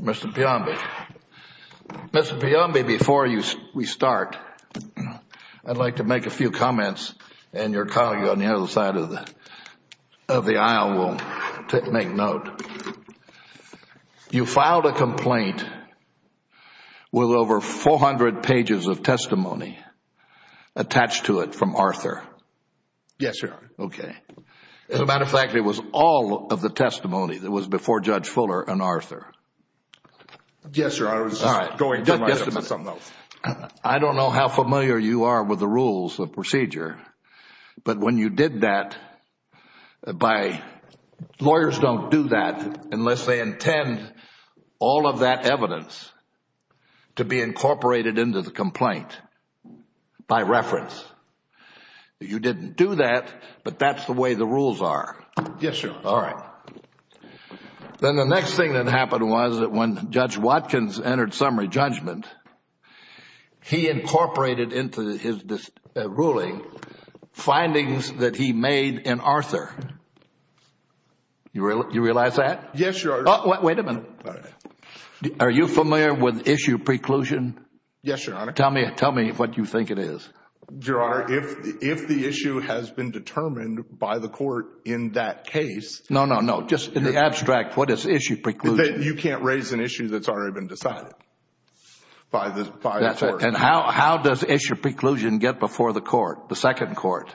Mr. Peombe, before we start, I'd like to make a few comments, and your colleague on the other side of the aisle will make note. You filed a complaint with over 400 pages of testimony attached to it from Arthur. Yes, sir. Okay. As a matter of fact, it was all of the testimony that was before Judge Fuller and Arthur. Yes, sir. I was going to write up something else. I don't know how familiar you are with the rules of procedure, but when you did that by lawyers don't do that unless they intend all of that evidence to be incorporated into the complaint by reference. You didn't do that, but that's the way the rules are. Yes, sir. All right. Then the next thing that happened was that when Judge Watkins entered summary judgment, he incorporated into his ruling findings that he made in Arthur. Do you realize that? Yes, your Honor. Wait a minute. Are you familiar with issue preclusion? Yes, your Honor. Tell me what you think it is. Your Honor, if the issue has been determined by the court in that case— No, no, no. Just in the abstract, what is issue preclusion? You can't raise an issue that's already been decided by the court. How does issue preclusion get before the court, the second court?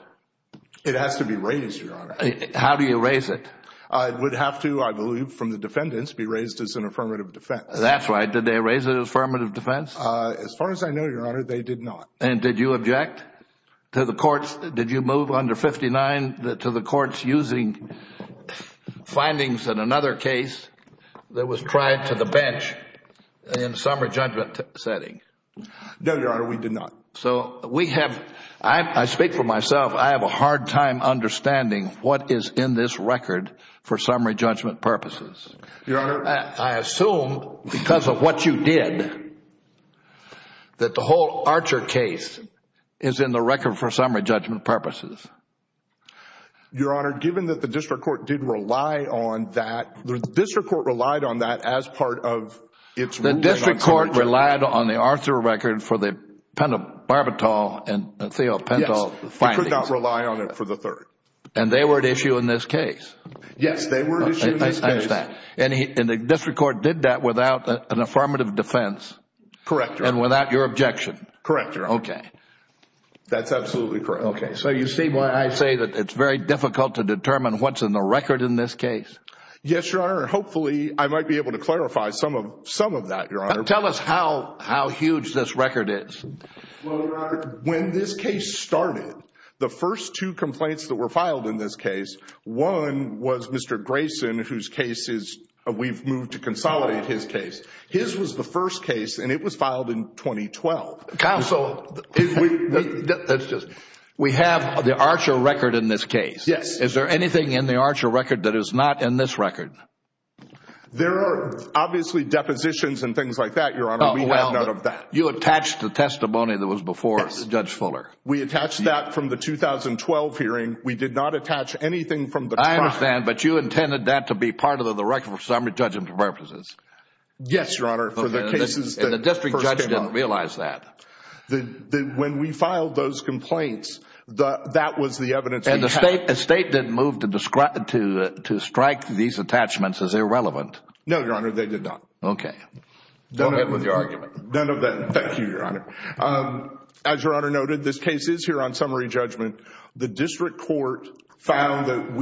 It has to be raised, your Honor. How do you raise it? It would have to, I believe, from the defendants, be raised as an affirmative defense. That's right. Did they raise it as affirmative defense? As far as I know, your Honor, they did not. And did you object to the courts—did you move under 59 to the courts using findings in another case that was tried to the bench in a summary judgment setting? No, your Honor, we did not. So we have—I speak for myself. I have a hard time understanding what is in this record for summary judgment purposes. Your Honor— I assume, because of what you did, that the whole Archer case is in the record for summary judgment purposes. Your Honor, given that the district court did rely on that—the district court relied on that as part of its ruling on summary judgment. The district court relied on the Archer record for the Penta-Barbatol and Theo-Penta findings. Yes, we could not rely on it for the third. And they were at issue in this case. Yes, they were at issue in this case. I understand. And the district court did that without an affirmative defense? Correct, your Honor. And without your objection? Correct, your Honor. Okay. That's absolutely correct. Okay. So you see why I say that it's very difficult to determine what's in the record in this case? Yes, your Honor, and hopefully I might be able to clarify some of that, your Honor. Tell us how huge this record is. Well, your Honor, when this case started, the first two complaints that were filed in this case, one was Mr. Grayson, whose case is—we've moved to consolidate his case. His was the first case, and it was filed in 2012. Counsel, we have the Archer record in this case. Yes. Is there anything in the Archer record that is not in this record? There are obviously depositions and things like that, your Honor. We have none of that. You attached the testimony that was before Judge Fuller. We attached that from the 2012 hearing. We did not attach anything from the trial. I understand, but you intended that to be part of the record for summary judgment purposes? Yes, your Honor. And the district judge didn't realize that? When we filed those complaints, that was the evidence we had. And the State didn't move to strike these attachments as irrelevant? No, your Honor, they did not. Okay. Go ahead with your argument. None of that. Thank you, your Honor. As your Honor noted, this case is here on summary judgment. The district court found that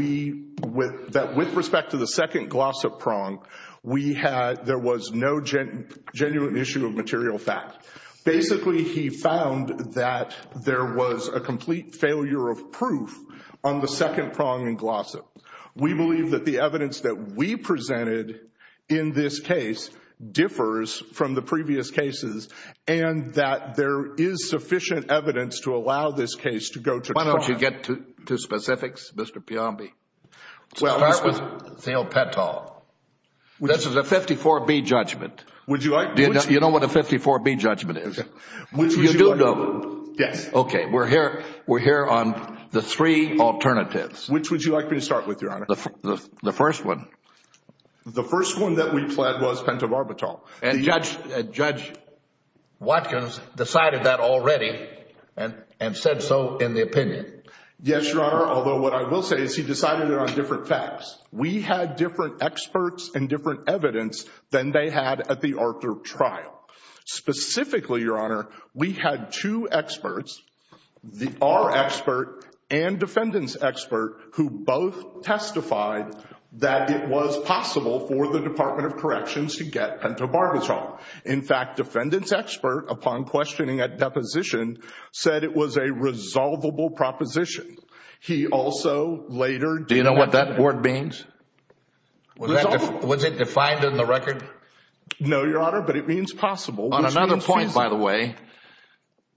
with respect to the second glossop prong, there was no genuine issue of material fact. Basically, he found that there was a complete failure of proof on the second prong in glossop. We believe that the evidence that we presented in this case differs from the previous cases and that there is sufficient evidence to allow this case to go to trial. Why don't you get to specifics, Mr. Piombi? Start with Thiel-Petal. This is a 54B judgment. Would you like me to start? You know what a 54B judgment is? Which would you like me to start? You do know? Yes. Okay. We're here on the three alternatives. Which would you like me to start with, your Honor? The first one. The first one that we pled was pent-of-arbitral. And Judge Watkins decided that already and said so in the opinion. Yes, your Honor, although what I will say is he decided it on different facts. We had different experts and different evidence than they had at the Arthur trial. Specifically, your Honor, we had two experts, our expert and defendant's expert, who both testified that it was possible for the Department of Corrections to get pent-of-arbitral. In fact, defendant's expert, upon questioning at deposition, said it was a resolvable proposition. He also later— Do you know what that word means? Was it defined in the record? No, your Honor, but it means possible. On another point, by the way,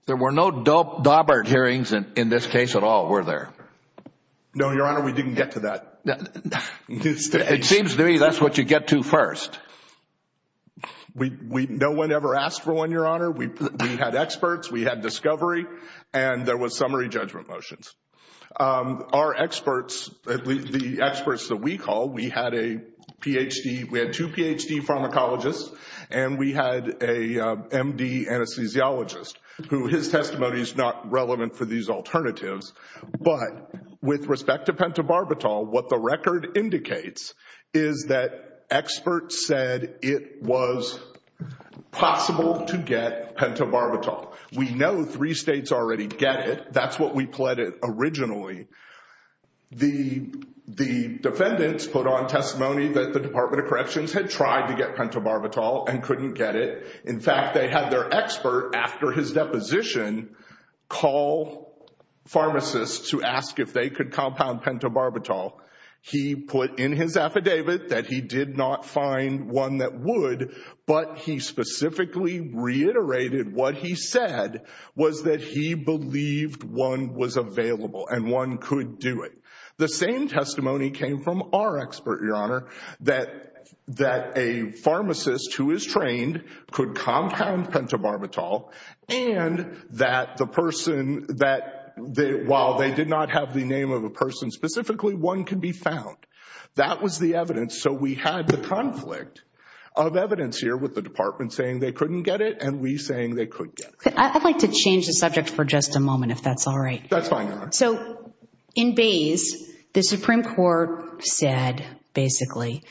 there were no Daubert hearings in this case at all, were there? No, your Honor, we didn't get to that. It seems to me that's what you get to first. No one ever asked for one, your Honor. We had experts, we had discovery, and there was summary judgment motions. Our experts, the experts that we call, we had a Ph.D., we had two Ph.D. pharmacologists, and we had a M.D. anesthesiologist, who his testimony is not relevant for these alternatives. But with respect to pent-of-arbitral, what the record indicates is that experts said it was possible to get pent-of-arbitral. We know three states already get it. That's what we pleaded originally. The defendants put on testimony that the Department of Corrections had tried to get pent-of-arbitral and couldn't get it. In fact, they had their expert, after his deposition, call pharmacists to ask if they could compound pent-of-arbitral. He put in his affidavit that he did not find one that would, but he specifically reiterated what he said was that he believed one was available and one could do it. The same testimony came from our expert, your Honor, that a pharmacist who is trained could compound pent-of-arbitral, and that while they did not have the name of a person specifically, one could be found. That was the evidence. So we had the conflict of evidence here with the Department saying they couldn't get it and we saying they could get it. I'd like to change the subject for just a moment, if that's all right. That's fine, Your Honor. So in Bays, the Supreme Court said, basically,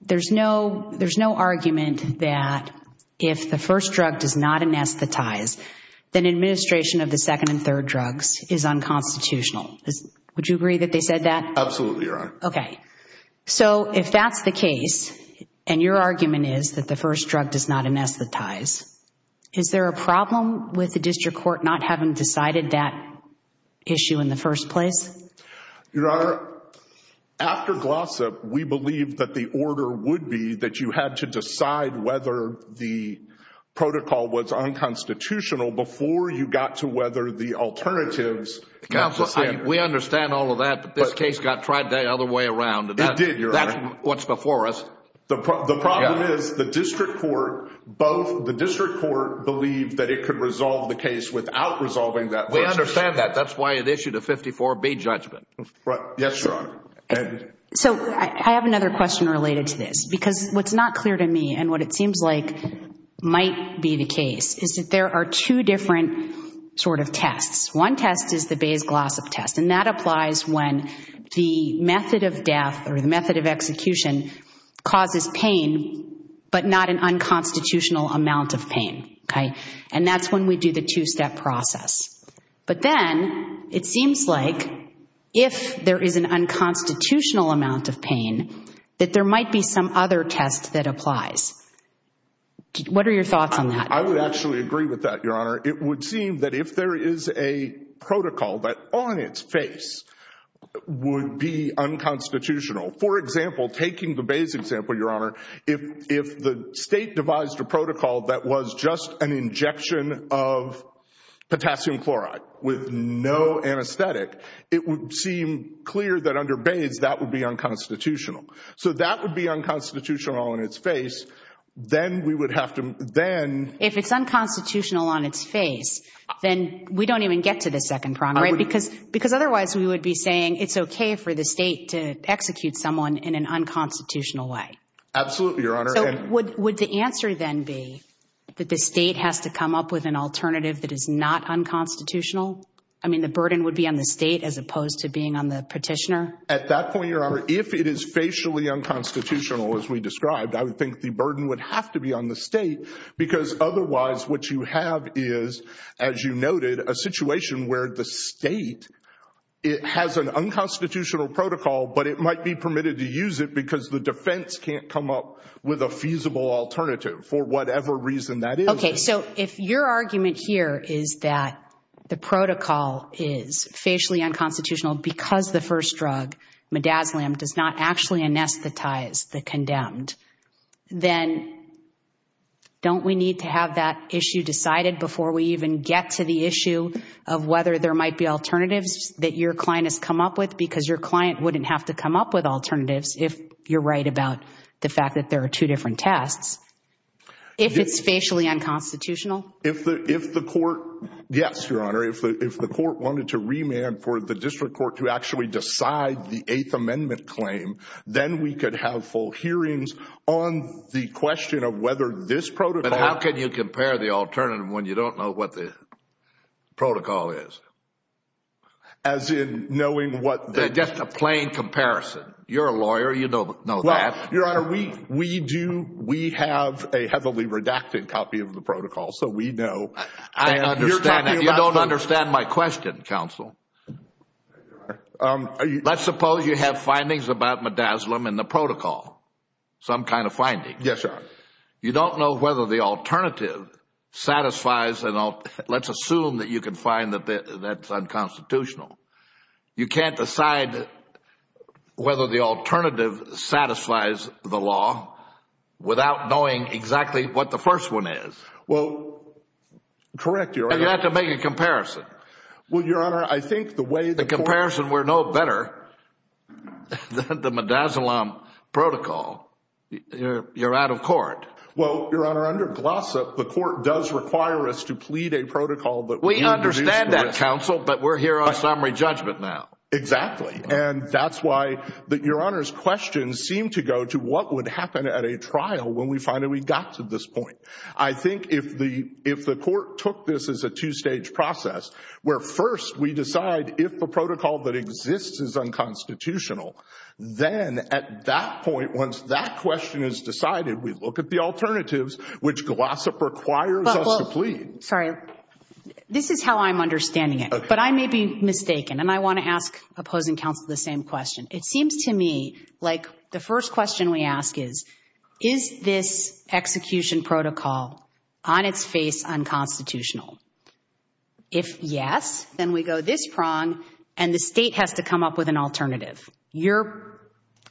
there's no argument that if the first drug does not anesthetize, then administration of the second and third drugs is unconstitutional. Would you agree that they said that? Absolutely, Your Honor. Okay. So if that's the case, and your argument is that the first drug does not anesthetize, is there a problem with the district court not having decided that issue in the first place? Your Honor, after Glossip, we believe that the order would be that you had to decide whether the protocol was unconstitutional before you got to whether the alternatives— Counsel, we understand all of that, but this case got tried the other way around. It did, Your Honor. That's what's before us. The problem is the district court believed that it could resolve the case without resolving that question. We understand that. That's why it issued a 54B judgment. Yes, Your Honor. So I have another question related to this because what's not clear to me and what it seems like might be the case is that there are two different sort of tests. One test is the Bays-Glossop test, and that applies when the method of death or the method of execution causes pain but not an unconstitutional amount of pain, okay? And that's when we do the two-step process. But then it seems like if there is an unconstitutional amount of pain, that there might be some other test that applies. What are your thoughts on that? I would actually agree with that, Your Honor. It would seem that if there is a protocol that on its face would be unconstitutional, for example, taking the Bays example, Your Honor, if the state devised a protocol that was just an injection of potassium chloride with no anesthetic, it would seem clear that under Bays that would be unconstitutional. So that would be unconstitutional on its face. If it's unconstitutional on its face, then we don't even get to the second prong, right? Because otherwise we would be saying it's okay for the state to execute someone in an unconstitutional way. Absolutely, Your Honor. So would the answer then be that the state has to come up with an alternative that is not unconstitutional? I mean the burden would be on the state as opposed to being on the petitioner? At that point, Your Honor, if it is facially unconstitutional as we described, I would think the burden would have to be on the state because otherwise what you have is, as you noted, a situation where the state has an unconstitutional protocol but it might be permitted to use it because the defense can't come up with a feasible alternative for whatever reason that is. Okay. So if your argument here is that the protocol is facially unconstitutional because the first drug, midazolam, does not actually anesthetize the condemned, then don't we need to have that issue decided before we even get to the issue of whether there might be alternatives that your client has come up with because your client wouldn't have to come up with alternatives if you're right about the fact that there are two different tests, if it's facially unconstitutional? If the court, yes, Your Honor. If the court wanted to remand for the district court to actually decide the Eighth Amendment claim, then we could have full hearings on the question of whether this protocol… But how can you compare the alternative when you don't know what the protocol is? As in knowing what… Just a plain comparison. You're a lawyer. You know that. Your Honor, we do. We have a heavily redacted copy of the protocol, so we know. I understand that. You're talking about the… You don't understand my question, counsel. Let's suppose you have findings about midazolam in the protocol, some kind of finding. Yes, Your Honor. You don't know whether the alternative satisfies… Let's assume that you can find that that's unconstitutional. You can't decide whether the alternative satisfies the law without knowing exactly what the first one is. Well, correct, Your Honor. And you have to make a comparison. Well, Your Honor, I think the way the court… The comparison we know better than the midazolam protocol. You're out of court. Well, Your Honor, under Glossip, the court does require us to plead a protocol that we introduce to it. Counsel, but we're here on summary judgment now. Exactly. And that's why Your Honor's question seemed to go to what would happen at a trial when we finally got to this point. I think if the court took this as a two-stage process, where first we decide if the protocol that exists is unconstitutional, then at that point, once that question is decided, we look at the alternatives, which Glossip requires us to plead. Sorry. This is how I'm understanding it. But I may be mistaken, and I want to ask opposing counsel the same question. It seems to me like the first question we ask is, is this execution protocol on its face unconstitutional? If yes, then we go this prong, and the state has to come up with an alternative. Your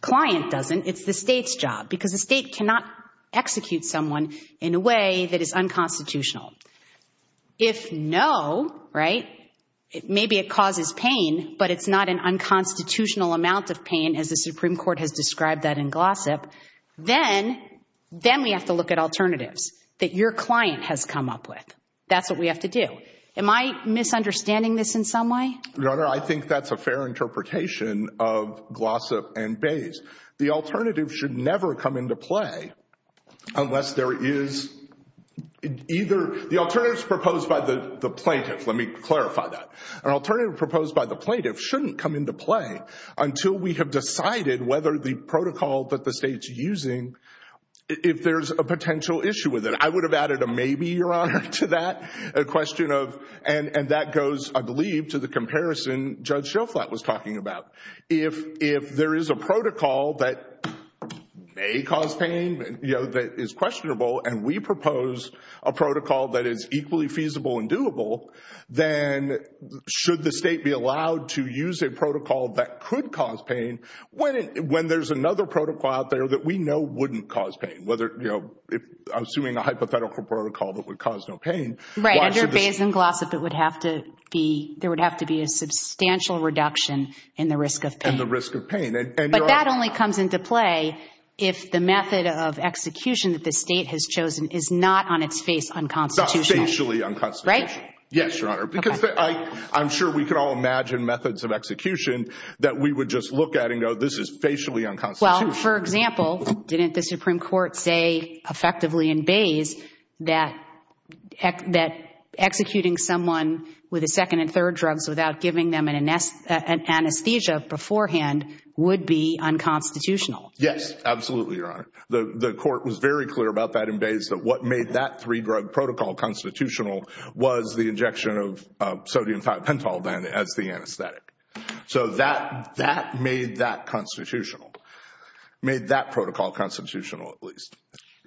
client doesn't. It's the state's job, because the state cannot execute someone in a way that is unconstitutional. If no, right, maybe it causes pain, but it's not an unconstitutional amount of pain, as the Supreme Court has described that in Glossip, then we have to look at alternatives that your client has come up with. That's what we have to do. Am I misunderstanding this in some way? Your Honor, I think that's a fair interpretation of Glossip and Bayes. The alternative should never come into play unless there is either the alternatives proposed by the plaintiff. Let me clarify that. An alternative proposed by the plaintiff shouldn't come into play until we have decided whether the protocol that the state's using, if there's a potential issue with it. I would have added a maybe, Your Honor, to that question. And that goes, I believe, to the comparison Judge Schoflat was talking about. If there is a protocol that may cause pain, you know, that is questionable, and we propose a protocol that is equally feasible and doable, then should the state be allowed to use a protocol that could cause pain when there's another protocol out there that we know wouldn't cause pain? I'm assuming a hypothetical protocol that would cause no pain. Right. Under Bayes and Glossip, there would have to be a substantial reduction in the risk of pain. And the risk of pain. But that only comes into play if the method of execution that the state has chosen is not on its face unconstitutional. Not facially unconstitutional. Right? Yes, Your Honor, because I'm sure we can all imagine methods of execution that we would just look at and go, this is facially unconstitutional. Well, for example, didn't the Supreme Court say effectively in Bayes that executing someone with a second and third drugs without giving them an anesthesia beforehand would be unconstitutional? Yes, absolutely, Your Honor. The court was very clear about that in Bayes, that what made that three-drug protocol constitutional was the injection of sodium pentol then as the anesthetic. So that made that constitutional. Made that protocol constitutional, at least.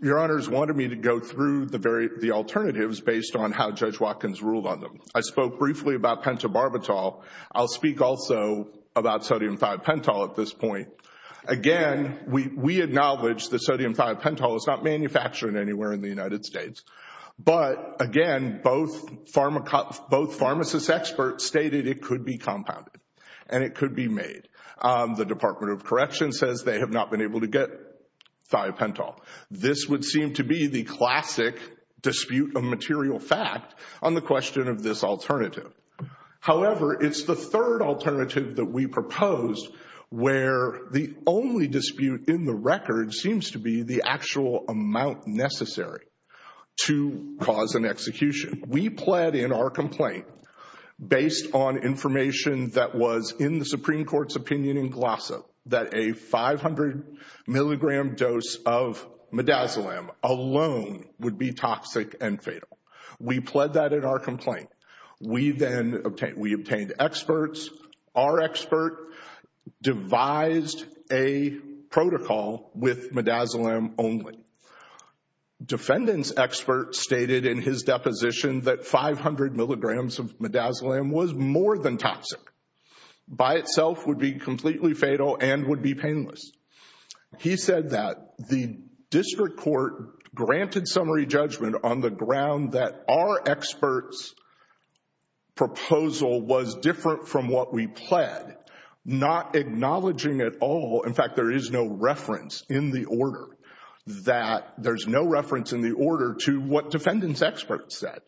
Your Honors wanted me to go through the alternatives based on how Judge Watkins ruled on them. I spoke briefly about pentobarbital. I'll speak also about sodium thiopental at this point. Again, we acknowledge that sodium thiopental is not manufactured anywhere in the United States. But, again, both pharmacists experts stated it could be compounded and it could be made. The Department of Correction says they have not been able to get thiopental. This would seem to be the classic dispute of material fact on the question of this alternative. However, it's the third alternative that we proposed where the only dispute in the record seems to be the actual amount necessary to cause an execution. We pled in our complaint based on information that was in the Supreme Court's opinion in Glossa that a 500 milligram dose of midazolam alone would be toxic and fatal. We pled that in our complaint. We then obtained, we obtained experts. Our expert devised a protocol with midazolam only. Defendant's expert stated in his deposition that 500 milligrams of midazolam was more than toxic. By itself would be completely fatal and would be painless. He said that the district court granted summary judgment on the ground that our expert's proposal was different from what we pled, not acknowledging at all, in fact there is no reference in the order, that there's no reference in the order to what defendant's expert said.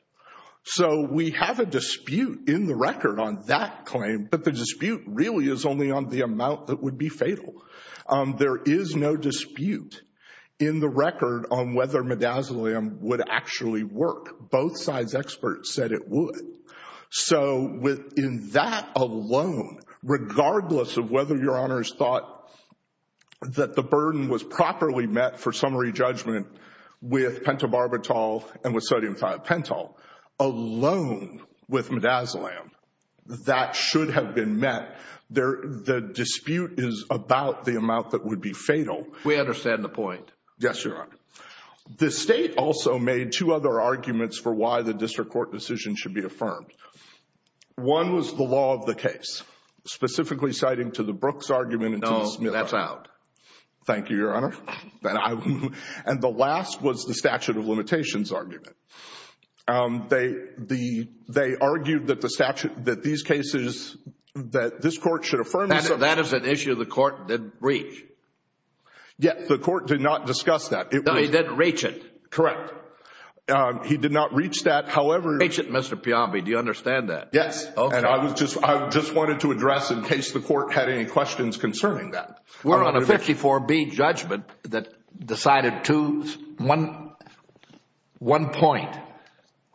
So we have a dispute in the record on that claim, but the dispute really is only on the amount that would be fatal. There is no dispute in the record on whether midazolam would actually work. Both sides' experts said it would. So in that alone, regardless of whether Your Honors thought that the burden was properly met for summary judgment with pentobarbital and with sodium thiopental, alone with midazolam, that should have been met. The dispute is about the amount that would be fatal. We understand the point. Yes, Your Honor. The state also made two other arguments for why the district court decision should be affirmed. One was the law of the case, specifically citing to the Brooks argument. No, that's out. Thank you, Your Honor. And the last was the statute of limitations argument. They argued that these cases that this court should affirm. That is an issue the court didn't reach. Yes, the court did not discuss that. No, he didn't reach it. Correct. He did not reach that, however. Mr. Piombi, do you understand that? Yes, and I just wanted to address in case the court had any questions concerning that. We're on a 54B judgment that decided to one point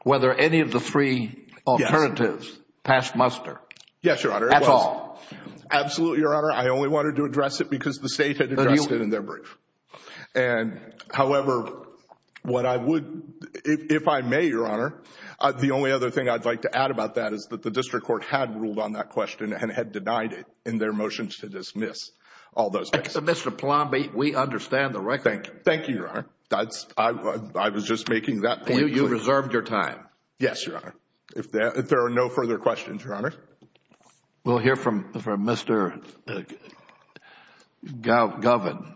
whether any of the three alternatives passed muster. Yes, Your Honor. That's all. Absolutely, Your Honor. I only wanted to address it because the state had addressed it in their brief. However, if I may, Your Honor, the only other thing I'd like to add about that is that the district court had ruled on that question and had denied it in their motions to dismiss all those cases. Mr. Piombi, we understand the record. Thank you, Your Honor. I was just making that point. You reserved your time. Yes, Your Honor. If there are no further questions, Your Honor. We'll hear from Mr. Govan.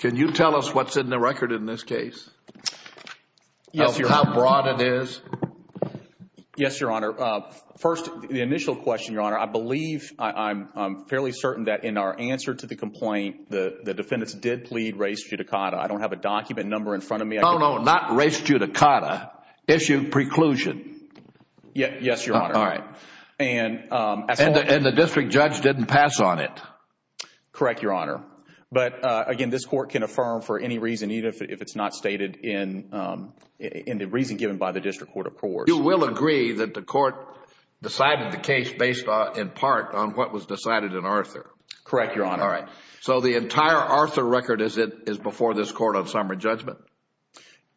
Can you tell us what's in the record in this case? Yes, Your Honor. Of how broad it is? Yes, Your Honor. First, the initial question, Your Honor. I believe, I'm fairly certain that in our answer to the complaint, the defendants did plead res judicata. I don't have a document number in front of me. No, no, not res judicata. Issue preclusion. Yes, Your Honor. All right. And the district judge didn't pass on it. Correct, Your Honor. But, again, this court can affirm for any reason, even if it's not stated in the reason given by the district court of course. You will agree that the court decided the case based in part on what was decided in Arthur? Correct, Your Honor. All right. So the entire Arthur record is before this court on summary judgment?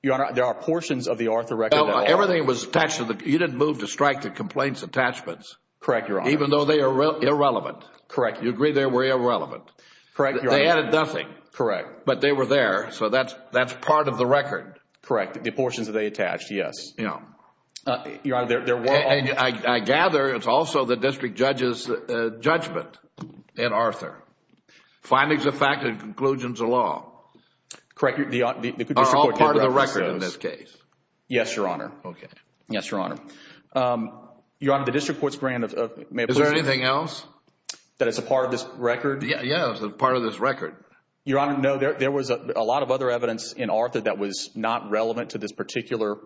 Your Honor, there are portions of the Arthur record. Everything was attached to the, you didn't move to strike the complaints attachments? Correct, Your Honor. Even though they are irrelevant? Correct. You agree they were irrelevant? Correct, Your Honor. They added nothing? Correct. But they were there. So that's part of the record? Correct. The portions that they attached, yes. Your Honor, there were... I gather it's also the district judge's judgment in Arthur. Findings of fact and conclusions of law. Correct. The district court did reference those. Are all part of the record in this case? Yes, Your Honor. Okay. Yes, Your Honor. Your Honor, the district court's grant of... Is there anything else? That is a part of this record? Yes, it's a part of this record. Your Honor, no. There was a lot of other evidence in Arthur that was not relevant to this particular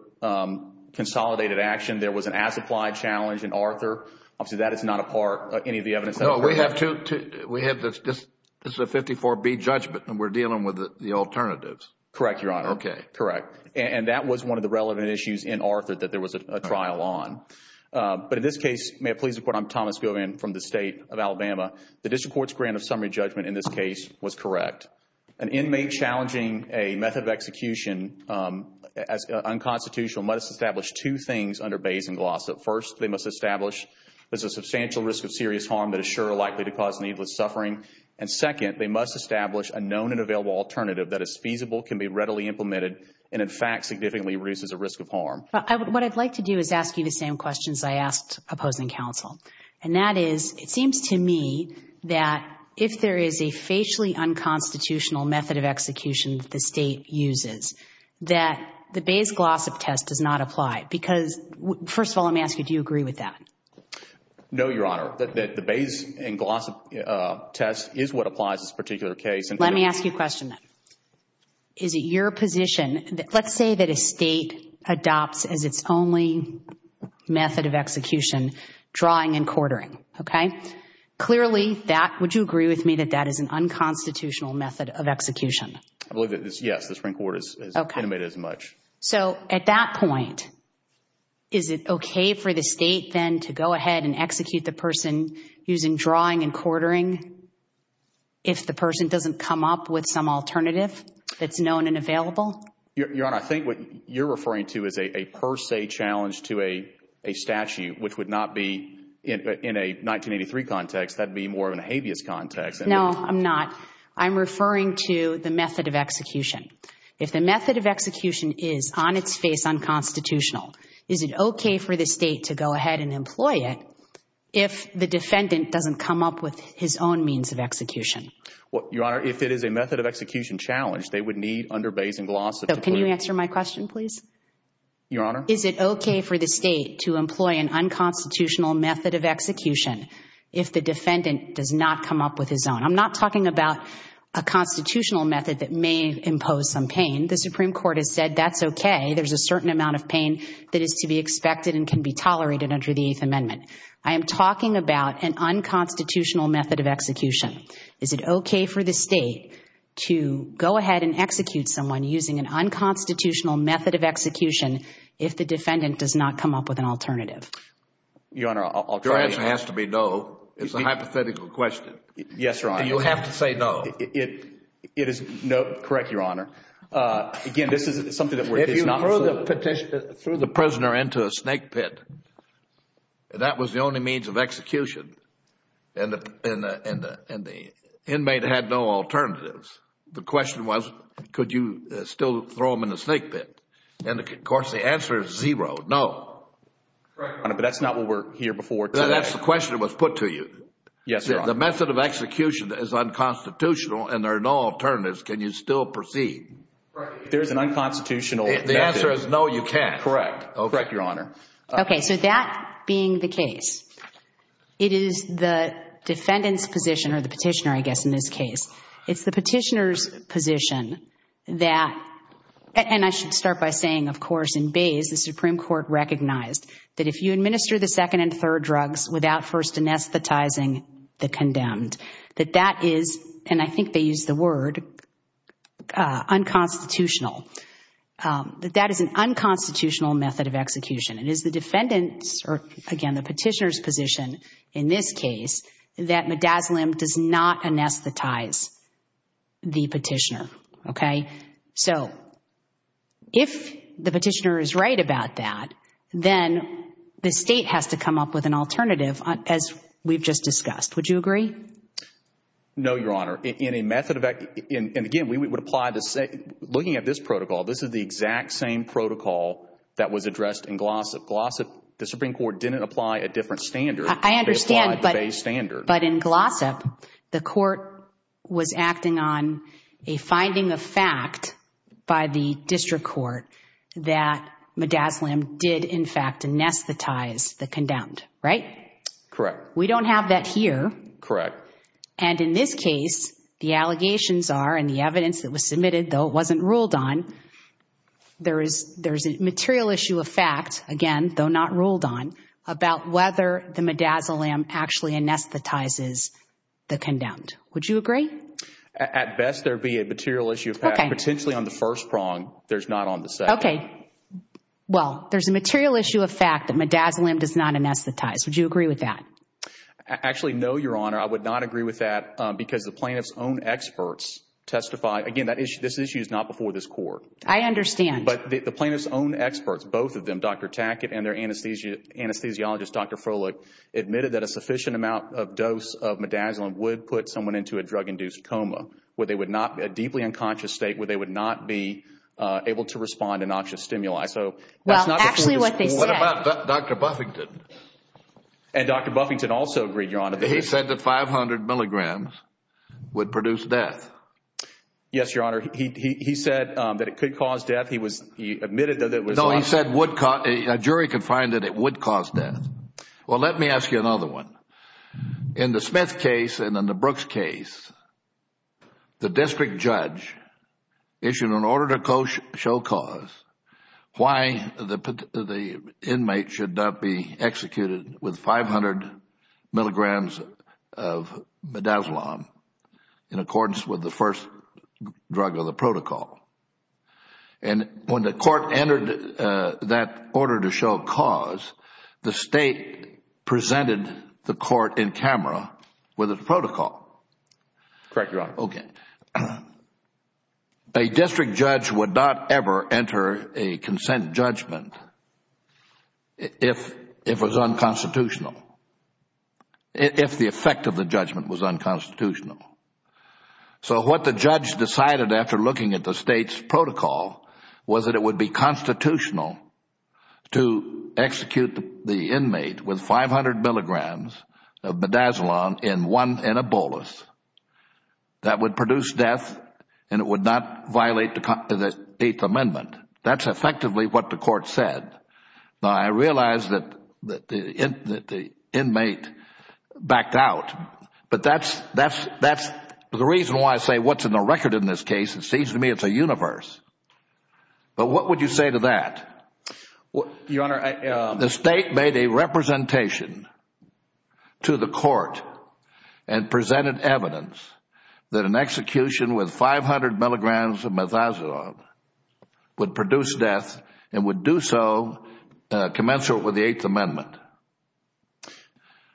consolidated action. There was an as-applied challenge in Arthur. Obviously, that is not a part of any of the evidence. No, we have two. We have this 54B judgment and we're dealing with the alternatives. Correct, Your Honor. Okay. Correct. And that was one of the relevant issues in Arthur that there was a trial on. But in this case, may it please the Court, I'm Thomas Gilvan from the State of Alabama. The district court's grant of summary judgment in this case was correct. An inmate challenging a method of execution as unconstitutional must establish two things under Bayes and Glossop. First, they must establish there's a substantial risk of serious harm that is sure likely to cause needless suffering. And second, they must establish a known and available alternative that is feasible, can be readily implemented, and in fact significantly reduces the risk of harm. What I'd like to do is ask you the same questions I asked opposing counsel. And that is, it seems to me that if there is a facially unconstitutional method of execution that the State uses, that the Bayes-Glossop test does not apply. Because, first of all, let me ask you, do you agree with that? No, Your Honor. The Bayes and Glossop test is what applies to this particular case. Let me ask you a question then. Is it your position, let's say that a State adopts as its only method of execution drawing and quartering, okay? Clearly, would you agree with me that that is an unconstitutional method of execution? Yes, the Supreme Court has intimated as much. So at that point, is it okay for the State then to go ahead and execute the person using drawing and quartering if the person doesn't come up with some alternative that's known and available? Your Honor, I think what you're referring to is a per se challenge to a statute, which would not be in a 1983 context. That would be more of an habeas context. No, I'm not. I'm referring to the method of execution. If the method of execution is on its face unconstitutional, is it okay for the State to go ahead and employ it if the defendant doesn't come up with his own means of execution? Your Honor, if it is a method of execution challenge, they would need under Bayes and Glossop to clear it. Can you answer my question, please? Your Honor? Is it okay for the State to employ an unconstitutional method of execution if the defendant does not come up with his own? I'm not talking about a constitutional method that may impose some pain. The Supreme Court has said that's okay. There's a certain amount of pain that is to be expected and can be tolerated under the Eighth Amendment. I am talking about an unconstitutional method of execution. Is it okay for the State to go ahead and execute someone using an unconstitutional method of execution if the defendant does not come up with an alternative? Your Honor, alternative. Your answer has to be no. It's a hypothetical question. Yes, Your Honor. And you have to say no. It is no. Correct, Your Honor. Again, this is something that we're discussing. If you threw the prisoner into a snake pit and that was the only means of execution and the inmate had no alternatives, the question was could you still throw him in a snake pit? And, of course, the answer is zero, no. Correct, Your Honor, but that's not what we're here before today. That's the question that was put to you. Yes, Your Honor. The method of execution is unconstitutional and there are no alternatives. Can you still proceed? If there's an unconstitutional method. The answer is no, you can't. Correct. Correct, Your Honor. Okay, so that being the case, it is the defendant's position or the petitioner, I guess, in this case. It's the petitioner's position that, and I should start by saying, of course, in Bayes, the Supreme Court recognized that if you administer the second and third drugs without first anesthetizing the condemned, that that is, and I think they used the word, unconstitutional. That that is an unconstitutional method of execution. It is the defendant's or, again, the petitioner's position in this case that midazolam does not anesthetize the petitioner. Okay? So, if the petitioner is right about that, then the State has to come up with an alternative, as we've just discussed. Would you agree? No, Your Honor. In a method of, and again, we would apply, looking at this protocol, this is the exact same protocol that was addressed in Glossip. Glossip, the Supreme Court didn't apply a different standard. I understand. They applied the Bayes standard. But in Glossip, the court was acting on a finding of fact by the district court that midazolam did, in fact, anesthetize the condemned. Right? Correct. We don't have that here. Correct. And in this case, the allegations are, and the evidence that was submitted, though it wasn't ruled on, there is a material issue of fact, again, though not ruled on, about whether the midazolam actually anesthetizes the condemned. Would you agree? At best, there would be a material issue of fact. Okay. Potentially on the first prong. There's not on the second. Okay. Well, there's a material issue of fact that midazolam does not anesthetize. Would you agree with that? Actually, no, Your Honor. I would not agree with that because the plaintiff's own experts testify. Again, this issue is not before this court. I understand. But the plaintiff's own experts, both of them, Dr. Tackett and their anesthesiologist, Dr. Froelich, admitted that a sufficient amount of dose of midazolam would put someone into a drug-induced coma, a deeply unconscious state where they would not be able to respond to noxious stimuli. Well, actually, what they said. And Dr. Buffington also agreed, Your Honor. He said that 500 milligrams would produce death. Yes, Your Honor. He said that it could cause death. He admitted that it would. No, he said a jury could find that it would cause death. Well, let me ask you another one. In the Smith case and in the Brooks case, the district judge issued an order to show cause why the inmate should not be executed with 500 milligrams of midazolam in accordance with the first drug of the protocol. And when the court entered that order to show cause, the State presented the court in camera with a protocol. Correct, Your Honor. Okay. A district judge would not ever enter a consent judgment if it was unconstitutional, if the effect of the judgment was unconstitutional. So what the judge decided after looking at the State's protocol was that it would be constitutional to execute the inmate with 500 milligrams of midazolam in one anabolis. That would produce death and it would not violate the Eighth Amendment. That is effectively what the court said. Now, I realize that the inmate backed out, but that is the reason why I say what is in the record in this case. It seems to me it is a universe. But what would you say to that? Your Honor, I The State made a representation to the court and presented evidence that an execution with 500 milligrams of midazolam would produce death and would do so commensurate with the Eighth Amendment.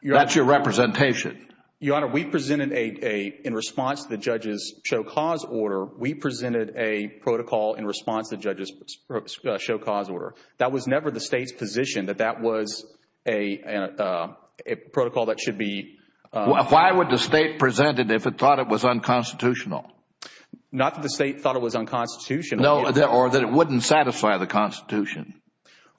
That is your representation. Your Honor, we presented, in response to the judge's show cause order, we presented a protocol in response to the judge's show cause order. That was never the State's position that that was a protocol that should be Why would the State present it if it thought it was unconstitutional? Not that the State thought it was unconstitutional. No, or that it would not satisfy the Constitution.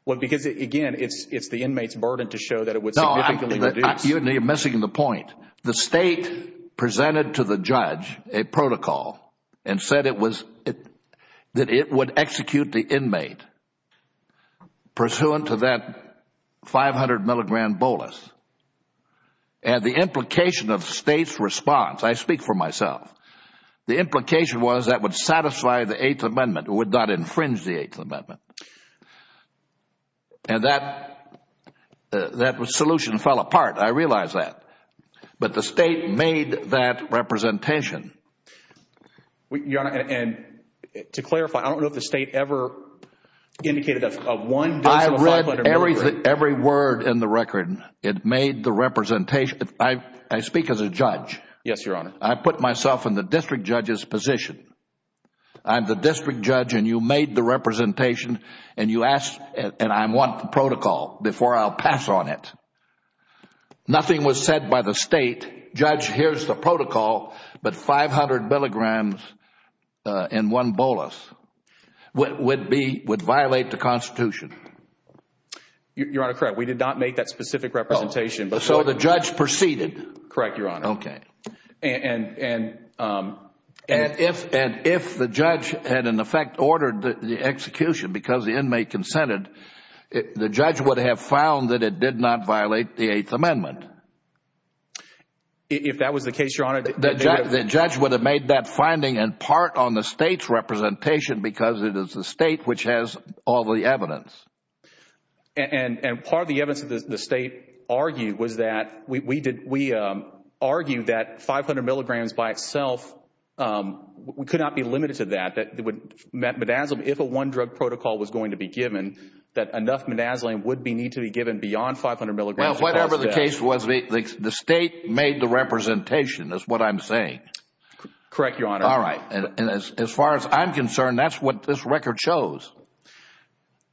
Well, because again, it is the inmate's burden to show that it would significantly reduce Your Honor, you are missing the point. The State presented to the judge a protocol and said that it would execute the inmate pursuant to that 500 milligram bolus. And the implication of the State's response, I speak for myself, the implication was that would satisfy the Eighth Amendment, would not infringe the Eighth Amendment. And that solution fell apart, I realize that. But the State made that representation. Your Honor, and to clarify, I don't know if the State ever indicated a one dose of a 500 milligram. I read every word in the record. It made the representation. I speak as a judge. Yes, Your Honor. I put myself in the district judge's position. I'm the district judge and you made the representation and you asked and I want the protocol before I'll pass on it. Nothing was said by the State, judge, here's the protocol, but 500 milligrams in one bolus would violate the Constitution. Your Honor, correct. We did not make that specific representation. So the judge proceeded. Correct, Your Honor. Okay. And if the judge had in effect ordered the execution because the inmate consented, the judge would have found that it did not violate the Eighth Amendment. If that was the case, Your Honor. The judge would have made that finding in part on the State's representation because it is the State which has all the evidence. And part of the evidence that the State argued was that we argued that 500 milligrams by itself could not be limited to that. If a one drug protocol was going to be given, that enough midazolam would need to be given beyond 500 milligrams. Well, whatever the case was, the State made the representation is what I'm saying. Correct, Your Honor. All right. And as far as I'm concerned, that's what this record chose.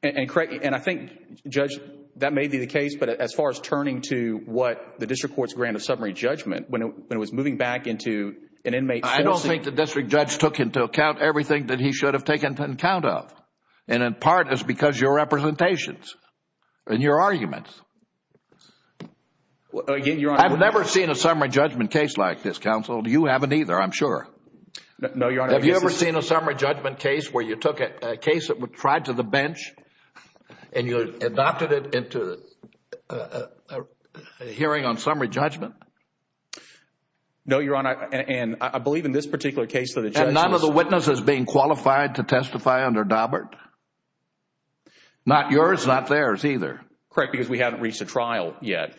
And I think, Judge, that may be the case. But as far as turning to what the district court's grant of summary judgment, when it was moving back into an inmate... I don't think the district judge took into account everything that he should have taken into account of. And in part, it's because your representations and your arguments. I've never seen a summary judgment case like this, Counsel. You haven't either, I'm sure. No, Your Honor. Have you ever seen a summary judgment case where you took a case that was tried to the bench and you adopted it into a hearing on summary judgment? No, Your Honor. And I believe in this particular case that a judge... And none of the witnesses being qualified to testify under Daubert? Not yours, not theirs either. Correct, because we haven't reached a trial yet.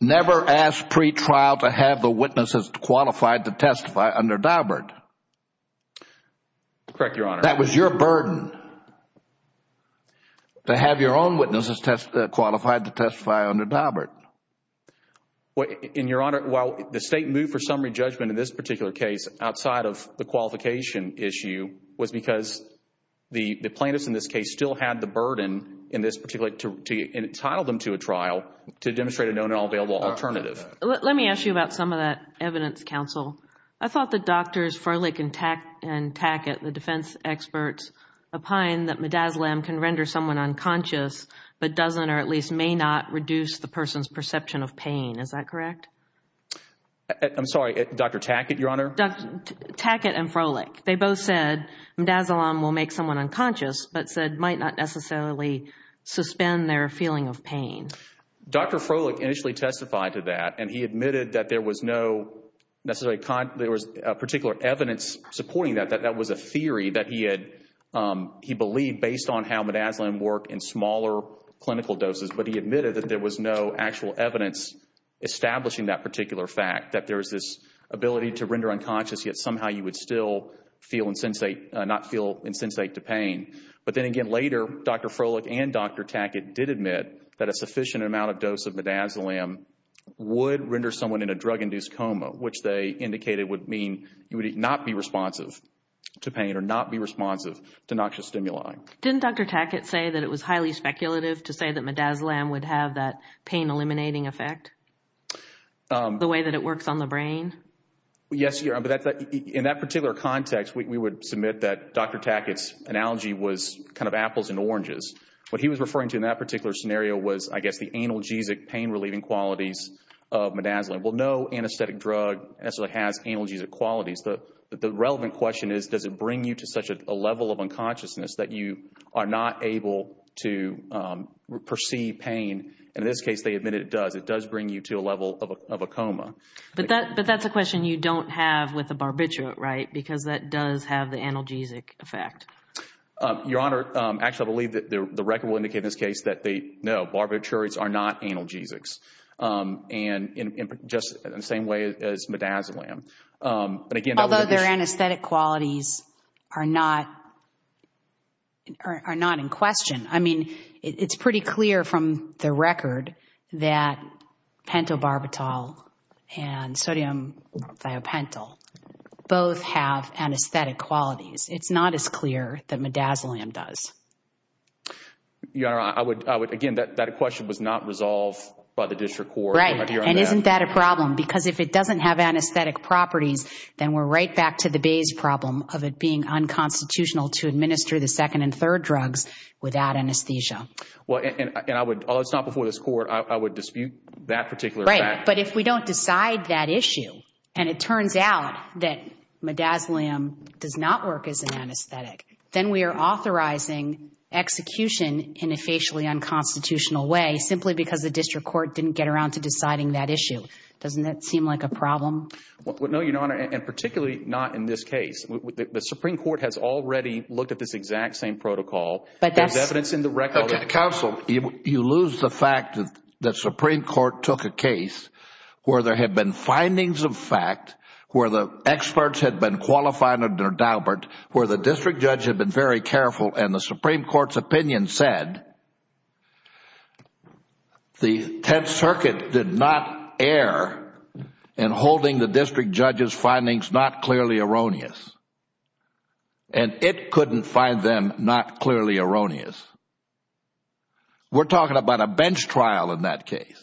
Never ask pretrial to have the witnesses qualified to testify under Daubert. Correct, Your Honor. That was your burden, to have your own witnesses qualified to testify under Daubert. And, Your Honor, while the state moved for summary judgment in this particular case outside of the qualification issue, was because the plaintiffs in this case still had the burden in this particular... to entitle them to a trial to demonstrate a known and all available alternative. Let me ask you about some of that evidence, Counsel. I thought that Drs. Froelich and Tackett, the defense experts, opined that midazolam can render someone unconscious, but doesn't or at least may not reduce the person's perception of pain. Is that correct? I'm sorry, Dr. Tackett, Your Honor? Tackett and Froelich, they both said midazolam will make someone unconscious, but said might not necessarily suspend their feeling of pain. Dr. Froelich initially testified to that, and he admitted that there was no necessarily... there was particular evidence supporting that, that that was a theory that he had... smaller clinical doses, but he admitted that there was no actual evidence establishing that particular fact, that there is this ability to render unconscious, yet somehow you would still feel insensate... not feel insensate to pain. But then again later, Dr. Froelich and Dr. Tackett did admit that a sufficient amount of dose of midazolam would render someone in a drug-induced coma, which they indicated would mean you would not be responsive to pain or not be responsive to noxious stimuli. Didn't Dr. Tackett say that it was highly speculative to say that midazolam would have that pain-eliminating effect? The way that it works on the brain? Yes, Your Honor, but in that particular context, we would submit that Dr. Tackett's analogy was kind of apples and oranges. What he was referring to in that particular scenario was, I guess, the analgesic pain-relieving qualities of midazolam. Well, no anesthetic drug necessarily has analgesic qualities. The relevant question is, does it bring you to such a level of unconsciousness that you are not able to perceive pain? And in this case, they admitted it does. It does bring you to a level of a coma. But that's a question you don't have with a barbiturate, right? Because that does have the analgesic effect. Your Honor, actually I believe that the record will indicate in this case that, no, barbiturates are not analgesics. And just in the same way as midazolam. Although their anesthetic qualities are not in question. I mean, it's pretty clear from the record that pentobarbital and sodium thiopental both have anesthetic qualities. It's not as clear that midazolam does. Your Honor, again, that question was not resolved by the district court. Right. And isn't that a problem? Because if it doesn't have anesthetic properties, then we're right back to the Bayes problem of it being unconstitutional to administer the second and third drugs without anesthesia. Well, and I would, although it's not before this Court, I would dispute that particular fact. Right. But if we don't decide that issue, and it turns out that midazolam does not work as an anesthetic, then we are authorizing execution in a facially unconstitutional way simply because the district court didn't get around to deciding that issue. Doesn't that seem like a problem? No, Your Honor, and particularly not in this case. The Supreme Court has already looked at this exact same protocol. There's evidence in the record. Counsel, you lose the fact that the Supreme Court took a case where there had been findings of fact, where the experts had been qualified under Daubert, where the district judge had been very careful, and the Supreme Court's opinion said the Tenth Circuit did not err in holding the district judge's findings not clearly erroneous. And it couldn't find them not clearly erroneous. We're talking about a bench trial in that case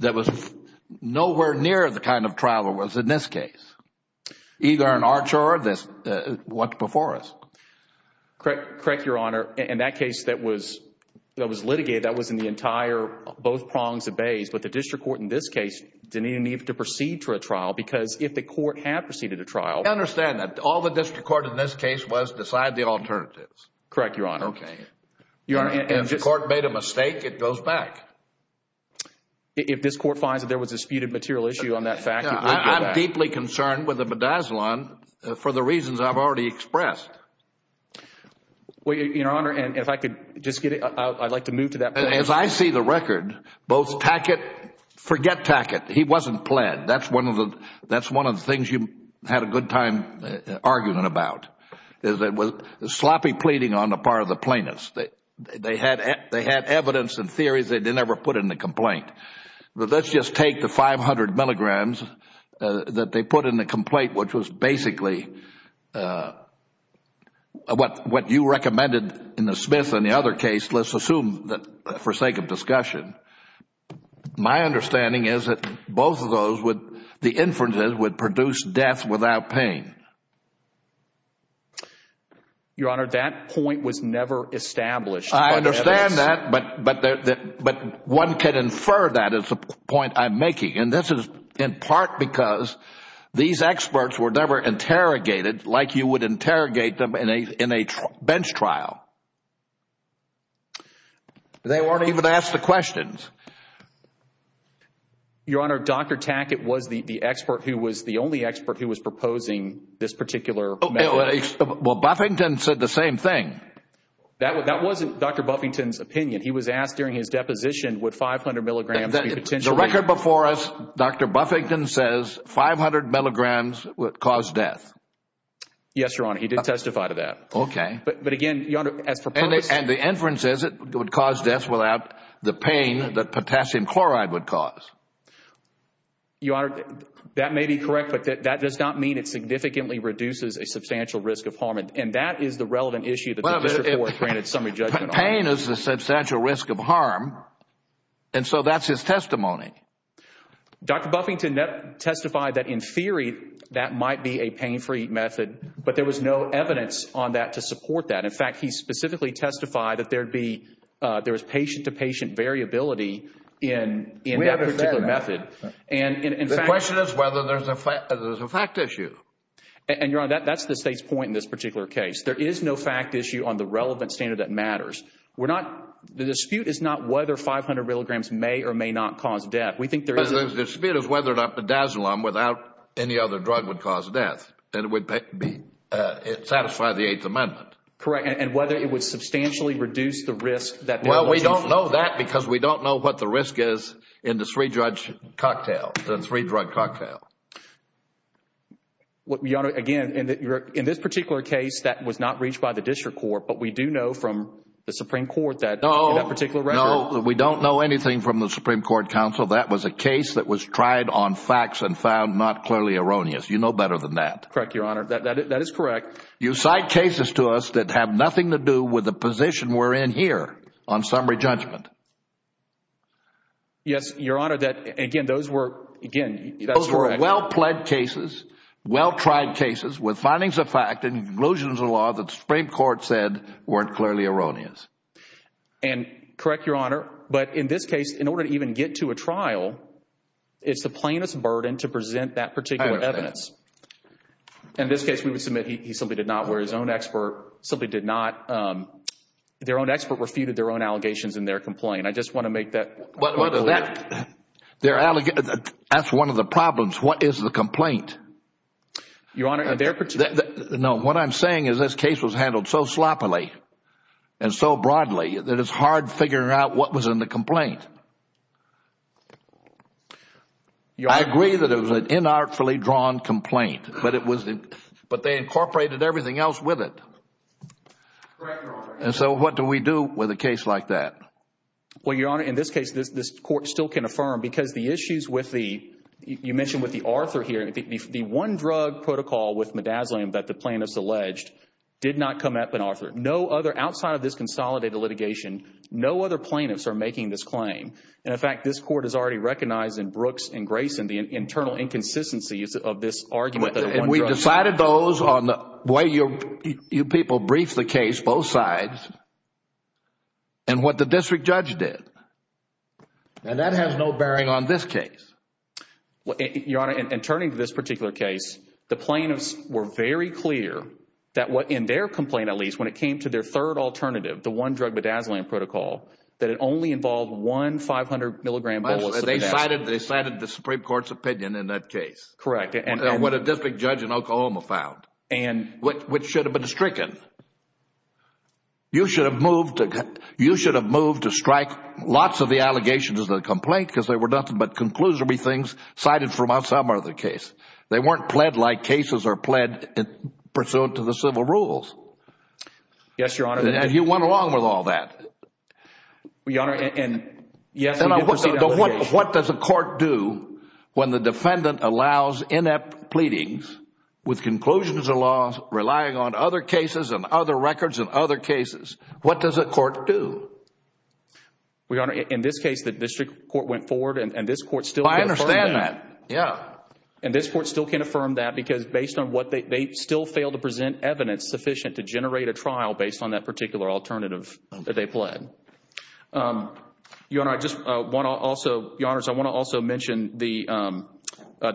that was nowhere near the kind of trial it was in this case. Either an archer or what's before us. Correct, Your Honor. In that case that was litigated, that was in the entire, both prongs of bays, but the district court in this case didn't even need to proceed to a trial because if the court had proceeded a trial— I understand that. All the district court in this case was decide the alternatives. Correct, Your Honor. Okay. If the court made a mistake, it goes back. If this court finds that there was a disputed material issue on that fact, it would go back. I'm deeply concerned with the bedazzling for the reasons I've already expressed. Well, Your Honor, and if I could just get, I'd like to move to that point. As I see the record, both Tackett, forget Tackett. He wasn't pled. That's one of the things you had a good time arguing about. It was sloppy pleading on the part of the plaintiffs. They had evidence and theories they didn't ever put in the complaint. But let's just take the 500 milligrams that they put in the complaint, which was basically what you recommended in the Smith and the other case. Let's assume that for sake of discussion. My understanding is that both of those, the inferences would produce death without pain. Your Honor, that point was never established. I understand that, but one can infer that is the point I'm making. And this is in part because these experts were never interrogated like you would interrogate them in a bench trial. They weren't even asked the questions. Your Honor, Dr. Tackett was the expert who was the only expert who was proposing this particular method. Well, Buffington said the same thing. That wasn't Dr. Buffington's opinion. He was asked during his deposition would 500 milligrams be potentially. The record before us, Dr. Buffington says 500 milligrams would cause death. Yes, Your Honor. He did testify to that. Okay. But again, Your Honor, as proposed. And the inference is it would cause death without the pain that potassium chloride would cause. Your Honor, that may be correct, but that does not mean it significantly reduces a substantial risk of harm. And that is the relevant issue that the district court granted summary judgment on. Pain is a substantial risk of harm, and so that's his testimony. Dr. Buffington testified that in theory that might be a pain-free method, but there was no evidence on that to support that. In fact, he specifically testified that there was patient-to-patient variability in that particular method. The question is whether there's a fact issue. And, Your Honor, that's the State's point in this particular case. There is no fact issue on the relevant standard that matters. The dispute is not whether 500 milligrams may or may not cause death. We think there is. The dispute is whether or not bedazolam without any other drug would cause death. And it would satisfy the Eighth Amendment. Correct. And whether it would substantially reduce the risk. Well, we don't know that because we don't know what the risk is in the three-drug cocktail. Your Honor, again, in this particular case, that was not reached by the district court, but we do know from the Supreme Court that in that particular record. No, we don't know anything from the Supreme Court counsel. That was a case that was tried on facts and found not clearly erroneous. You know better than that. Correct, Your Honor. That is correct. You cite cases to us that have nothing to do with the position we're in here on summary judgment. Yes, Your Honor, that, again, those were, again, that's correct. Those were well-pled cases, well-tried cases with findings of fact and conclusions of law that the Supreme Court said weren't clearly erroneous. And correct, Your Honor, but in this case, in order to even get to a trial, it's the plaintiff's burden to present that particular evidence. I understand. In this case, we would submit he simply did not, where his own expert simply did not, their own expert refuted their own allegations in their complaint. I just want to make that point clear. That's one of the problems. What is the complaint? Your Honor, in their particular – No, what I'm saying is this case was handled so sloppily and so broadly that it's hard figuring out what was in the complaint. I agree that it was an inartfully drawn complaint, but they incorporated everything else with it. Correct, Your Honor. And so what do we do with a case like that? Well, Your Honor, in this case, this Court still can affirm because the issues with the – you mentioned with the Arthur here. The one-drug protocol with midazolam that the plaintiffs alleged did not come up in Arthur. No other – outside of this consolidated litigation, no other plaintiffs are making this claim. And, in fact, this Court has already recognized in Brooks and Grayson the internal inconsistencies of this argument that a one-drug – And we decided those on the way you people briefed the case, both sides, and what the district judge did. And that has no bearing on this case. Your Honor, in turning to this particular case, the plaintiffs were very clear that in their complaint, at least, when it came to their third alternative, the one-drug midazolam protocol, that it only involved one 500-milligram bolus of midazolam. They cited the Supreme Court's opinion in that case. Correct. And what a district judge in Oklahoma found. And – Which should have been stricken. You should have moved to – you should have moved to strike lots of the allegations of the complaint because they were nothing but conclusory things cited from some other case. They weren't pled like cases are pled pursuant to the civil rules. Yes, Your Honor. And you went along with all that. Your Honor, and – yes, we did proceed – What does a court do when the defendant allows inept pleadings with conclusions or laws relying on other cases and other records and other cases? What does a court do? Your Honor, in this case, the district court went forward and this court still can't affirm that. I understand that. Yes. And this court still can't affirm that because based on what they – they still fail to present evidence sufficient to generate a trial based on that particular alternative that they pled. Your Honor, I just want to also – Your Honors, I want to also mention the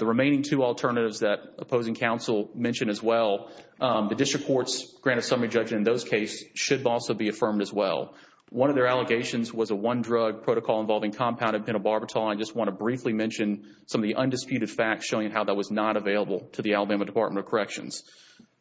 remaining two alternatives that opposing counsel mentioned as well. The district court's grant of summary judgment in those cases should also be affirmed as well. One of their allegations was a one-drug protocol involving compounded pentobarbital. I just want to briefly mention some of the undisputed facts showing how that was not available to the Alabama Department of Corrections.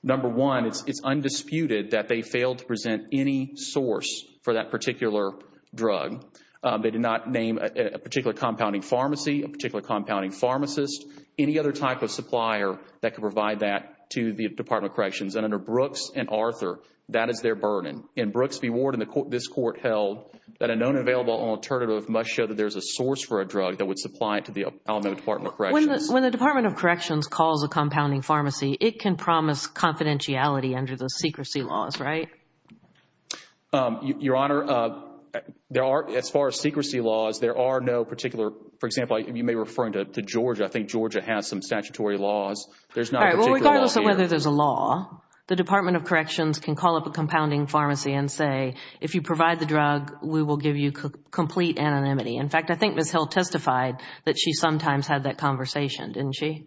Number one, it's undisputed that they failed to present any source for that particular drug. They did not name a particular compounding pharmacy, a particular compounding pharmacist, any other type of supplier that could provide that to the Department of Corrections. And under Brooks and Arthur, that is their burden. In Brooks v. Warden, this court held that a known available alternative must show that there's a source for a drug that would supply it to the Alabama Department of Corrections. When the Department of Corrections calls a compounding pharmacy, it can promise confidentiality under the secrecy laws, right? Your Honor, there are – as far as secrecy laws, there are no particular – for example, you may be referring to Georgia. I think Georgia has some statutory laws. There's not a particular law there. Regardless of whether there's a law, the Department of Corrections can call up a compounding pharmacy and say, if you provide the drug, we will give you complete anonymity. In fact, I think Ms. Hill testified that she sometimes had that conversation, didn't she?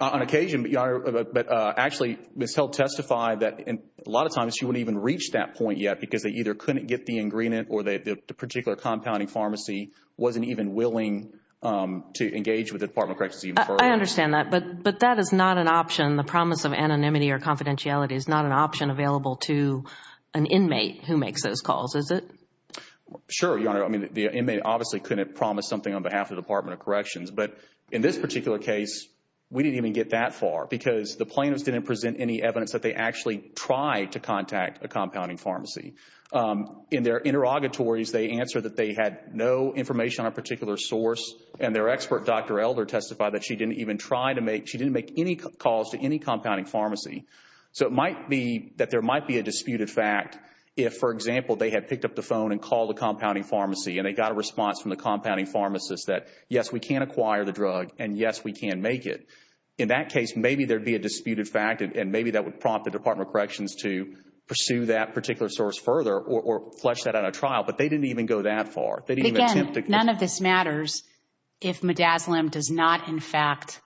On occasion, but actually, Ms. Hill testified that a lot of times she wouldn't even reach that point yet because they either couldn't get the ingredient or the particular compounding pharmacy wasn't even willing to engage with the Department of Corrections even further. I understand that, but that is not an option. The promise of anonymity or confidentiality is not an option available to an inmate who makes those calls, is it? Sure, Your Honor. I mean, the inmate obviously couldn't promise something on behalf of the Department of Corrections. But in this particular case, we didn't even get that far because the plaintiffs didn't present any evidence that they actually tried to contact a compounding pharmacy. In their interrogatories, they answered that they had no information on a particular source, and their expert, Dr. Elder, testified that she didn't even try to make – she didn't make any calls to any compounding pharmacy. So it might be that there might be a disputed fact if, for example, they had picked up the phone and called the compounding pharmacy, and they got a response from the compounding pharmacist that, yes, we can acquire the drug, and yes, we can make it. In that case, maybe there would be a disputed fact, and maybe that would prompt the Department of Corrections to pursue that particular source further or flush that out of trial. But they didn't even go that far. They didn't even attempt to – Again, none of this matters if Midazolam does not, in fact,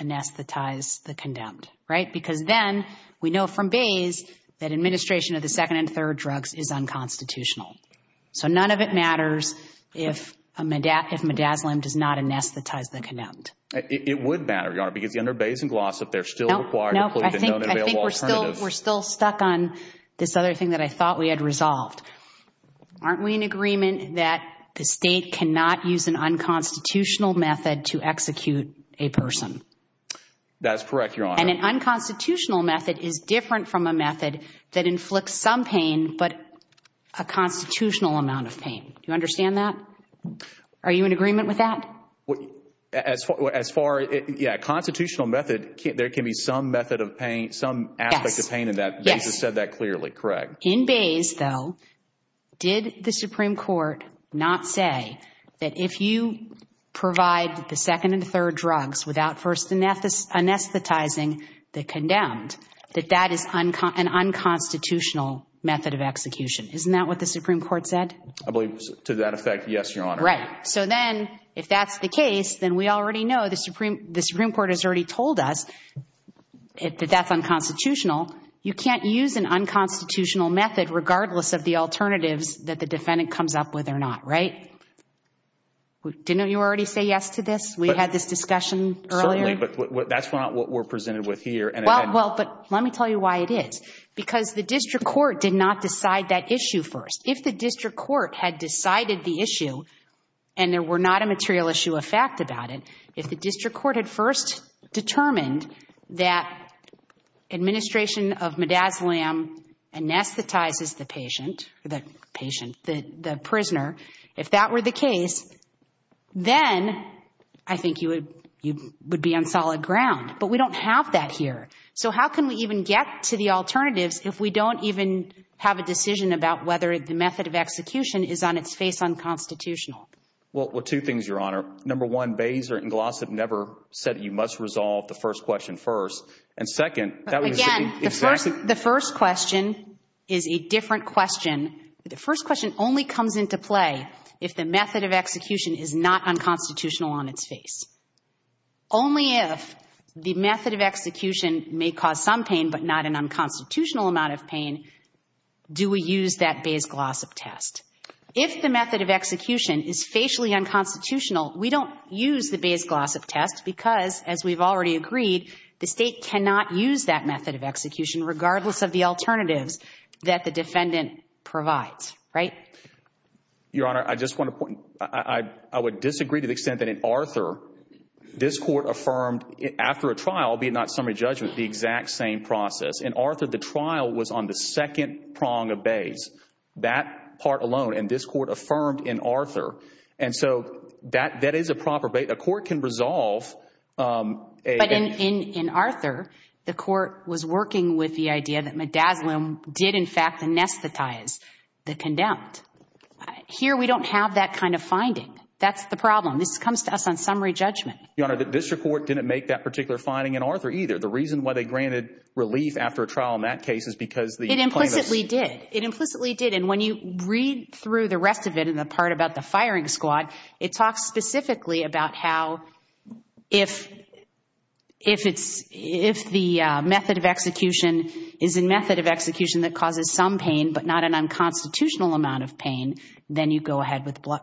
anesthetize the condemned, right? Because then we know from Bayes that administration of the second and third drugs is unconstitutional. So none of it matters if Midazolam does not anesthetize the condemned. It would matter, Your Honor, because under Bayes and Glossop, they're still required to include the known available alternatives. I think we're still stuck on this other thing that I thought we had resolved. Aren't we in agreement that the state cannot use an unconstitutional method to execute a person? That's correct, Your Honor. And an unconstitutional method is different from a method that inflicts some pain, but a constitutional amount of pain. Do you understand that? Are you in agreement with that? As far – yeah, constitutional method, there can be some method of pain, some aspect of pain in that. Yes. Bayes has said that clearly, correct? In Bayes, though, did the Supreme Court not say that if you provide the second and third drugs without first anesthetizing the condemned, that that is an unconstitutional method of execution. Isn't that what the Supreme Court said? I believe, to that effect, yes, Your Honor. Right. So then if that's the case, then we already know, the Supreme Court has already told us that that's unconstitutional. You can't use an unconstitutional method regardless of the alternatives that the defendant comes up with or not, right? Didn't you already say yes to this? We had this discussion earlier. Certainly, but that's not what we're presented with here. Well, but let me tell you why it is. Because the district court did not decide that issue first. If the district court had decided the issue and there were not a material issue of fact about it, if the district court had first determined that administration of midazolam anesthetizes the patient, the prisoner, if that were the case, then I think you would be on solid ground. But we don't have that here. So how can we even get to the alternatives if we don't even have a decision about whether the method of execution is on its face unconstitutional? Well, two things, Your Honor. Number one, Bazer and Glossop never said you must resolve the first question first. Again, the first question is a different question. The first question only comes into play if the method of execution is not unconstitutional on its face. Only if the method of execution may cause some pain but not an unconstitutional amount of pain do we use that Bazer-Glossop test. If the method of execution is facially unconstitutional, we don't use the Bazer-Glossop test because, as we've already agreed, the state cannot use that method of execution regardless of the alternatives that the defendant provides. Right? Your Honor, I just want to point – I would disagree to the extent that in Arthur, this Court affirmed after a trial, be it not summary judgment, the exact same process. In Arthur, the trial was on the second prong of Baze, that part alone, and this Court affirmed in Arthur. And so that is a proper – a court can resolve. But in Arthur, the Court was working with the idea that midazolam did, in fact, anesthetize the condemned. Here, we don't have that kind of finding. That's the problem. This comes to us on summary judgment. Your Honor, the district court didn't make that particular finding in Arthur either. The reason why they granted relief after a trial in that case is because the plaintiffs – It implicitly did. It implicitly did. And when you read through the rest of it and the part about the firing squad, it talks specifically about how if it's – if the method of execution is a method of execution that causes some pain but not an unconstitutional amount of pain, then you go ahead with the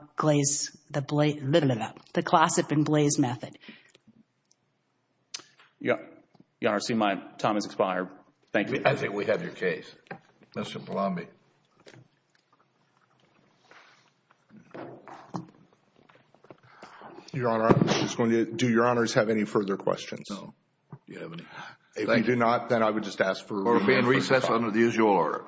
glossip and blaze method. Your Honor, I see my time has expired. Thank you. I think we have your case. Mr. Palombi. Your Honor, I'm just going to – do Your Honors have any further questions? No. Do you have any? If you do not, then I would just ask for a remand. Court will be in recess under the usual order. All rise.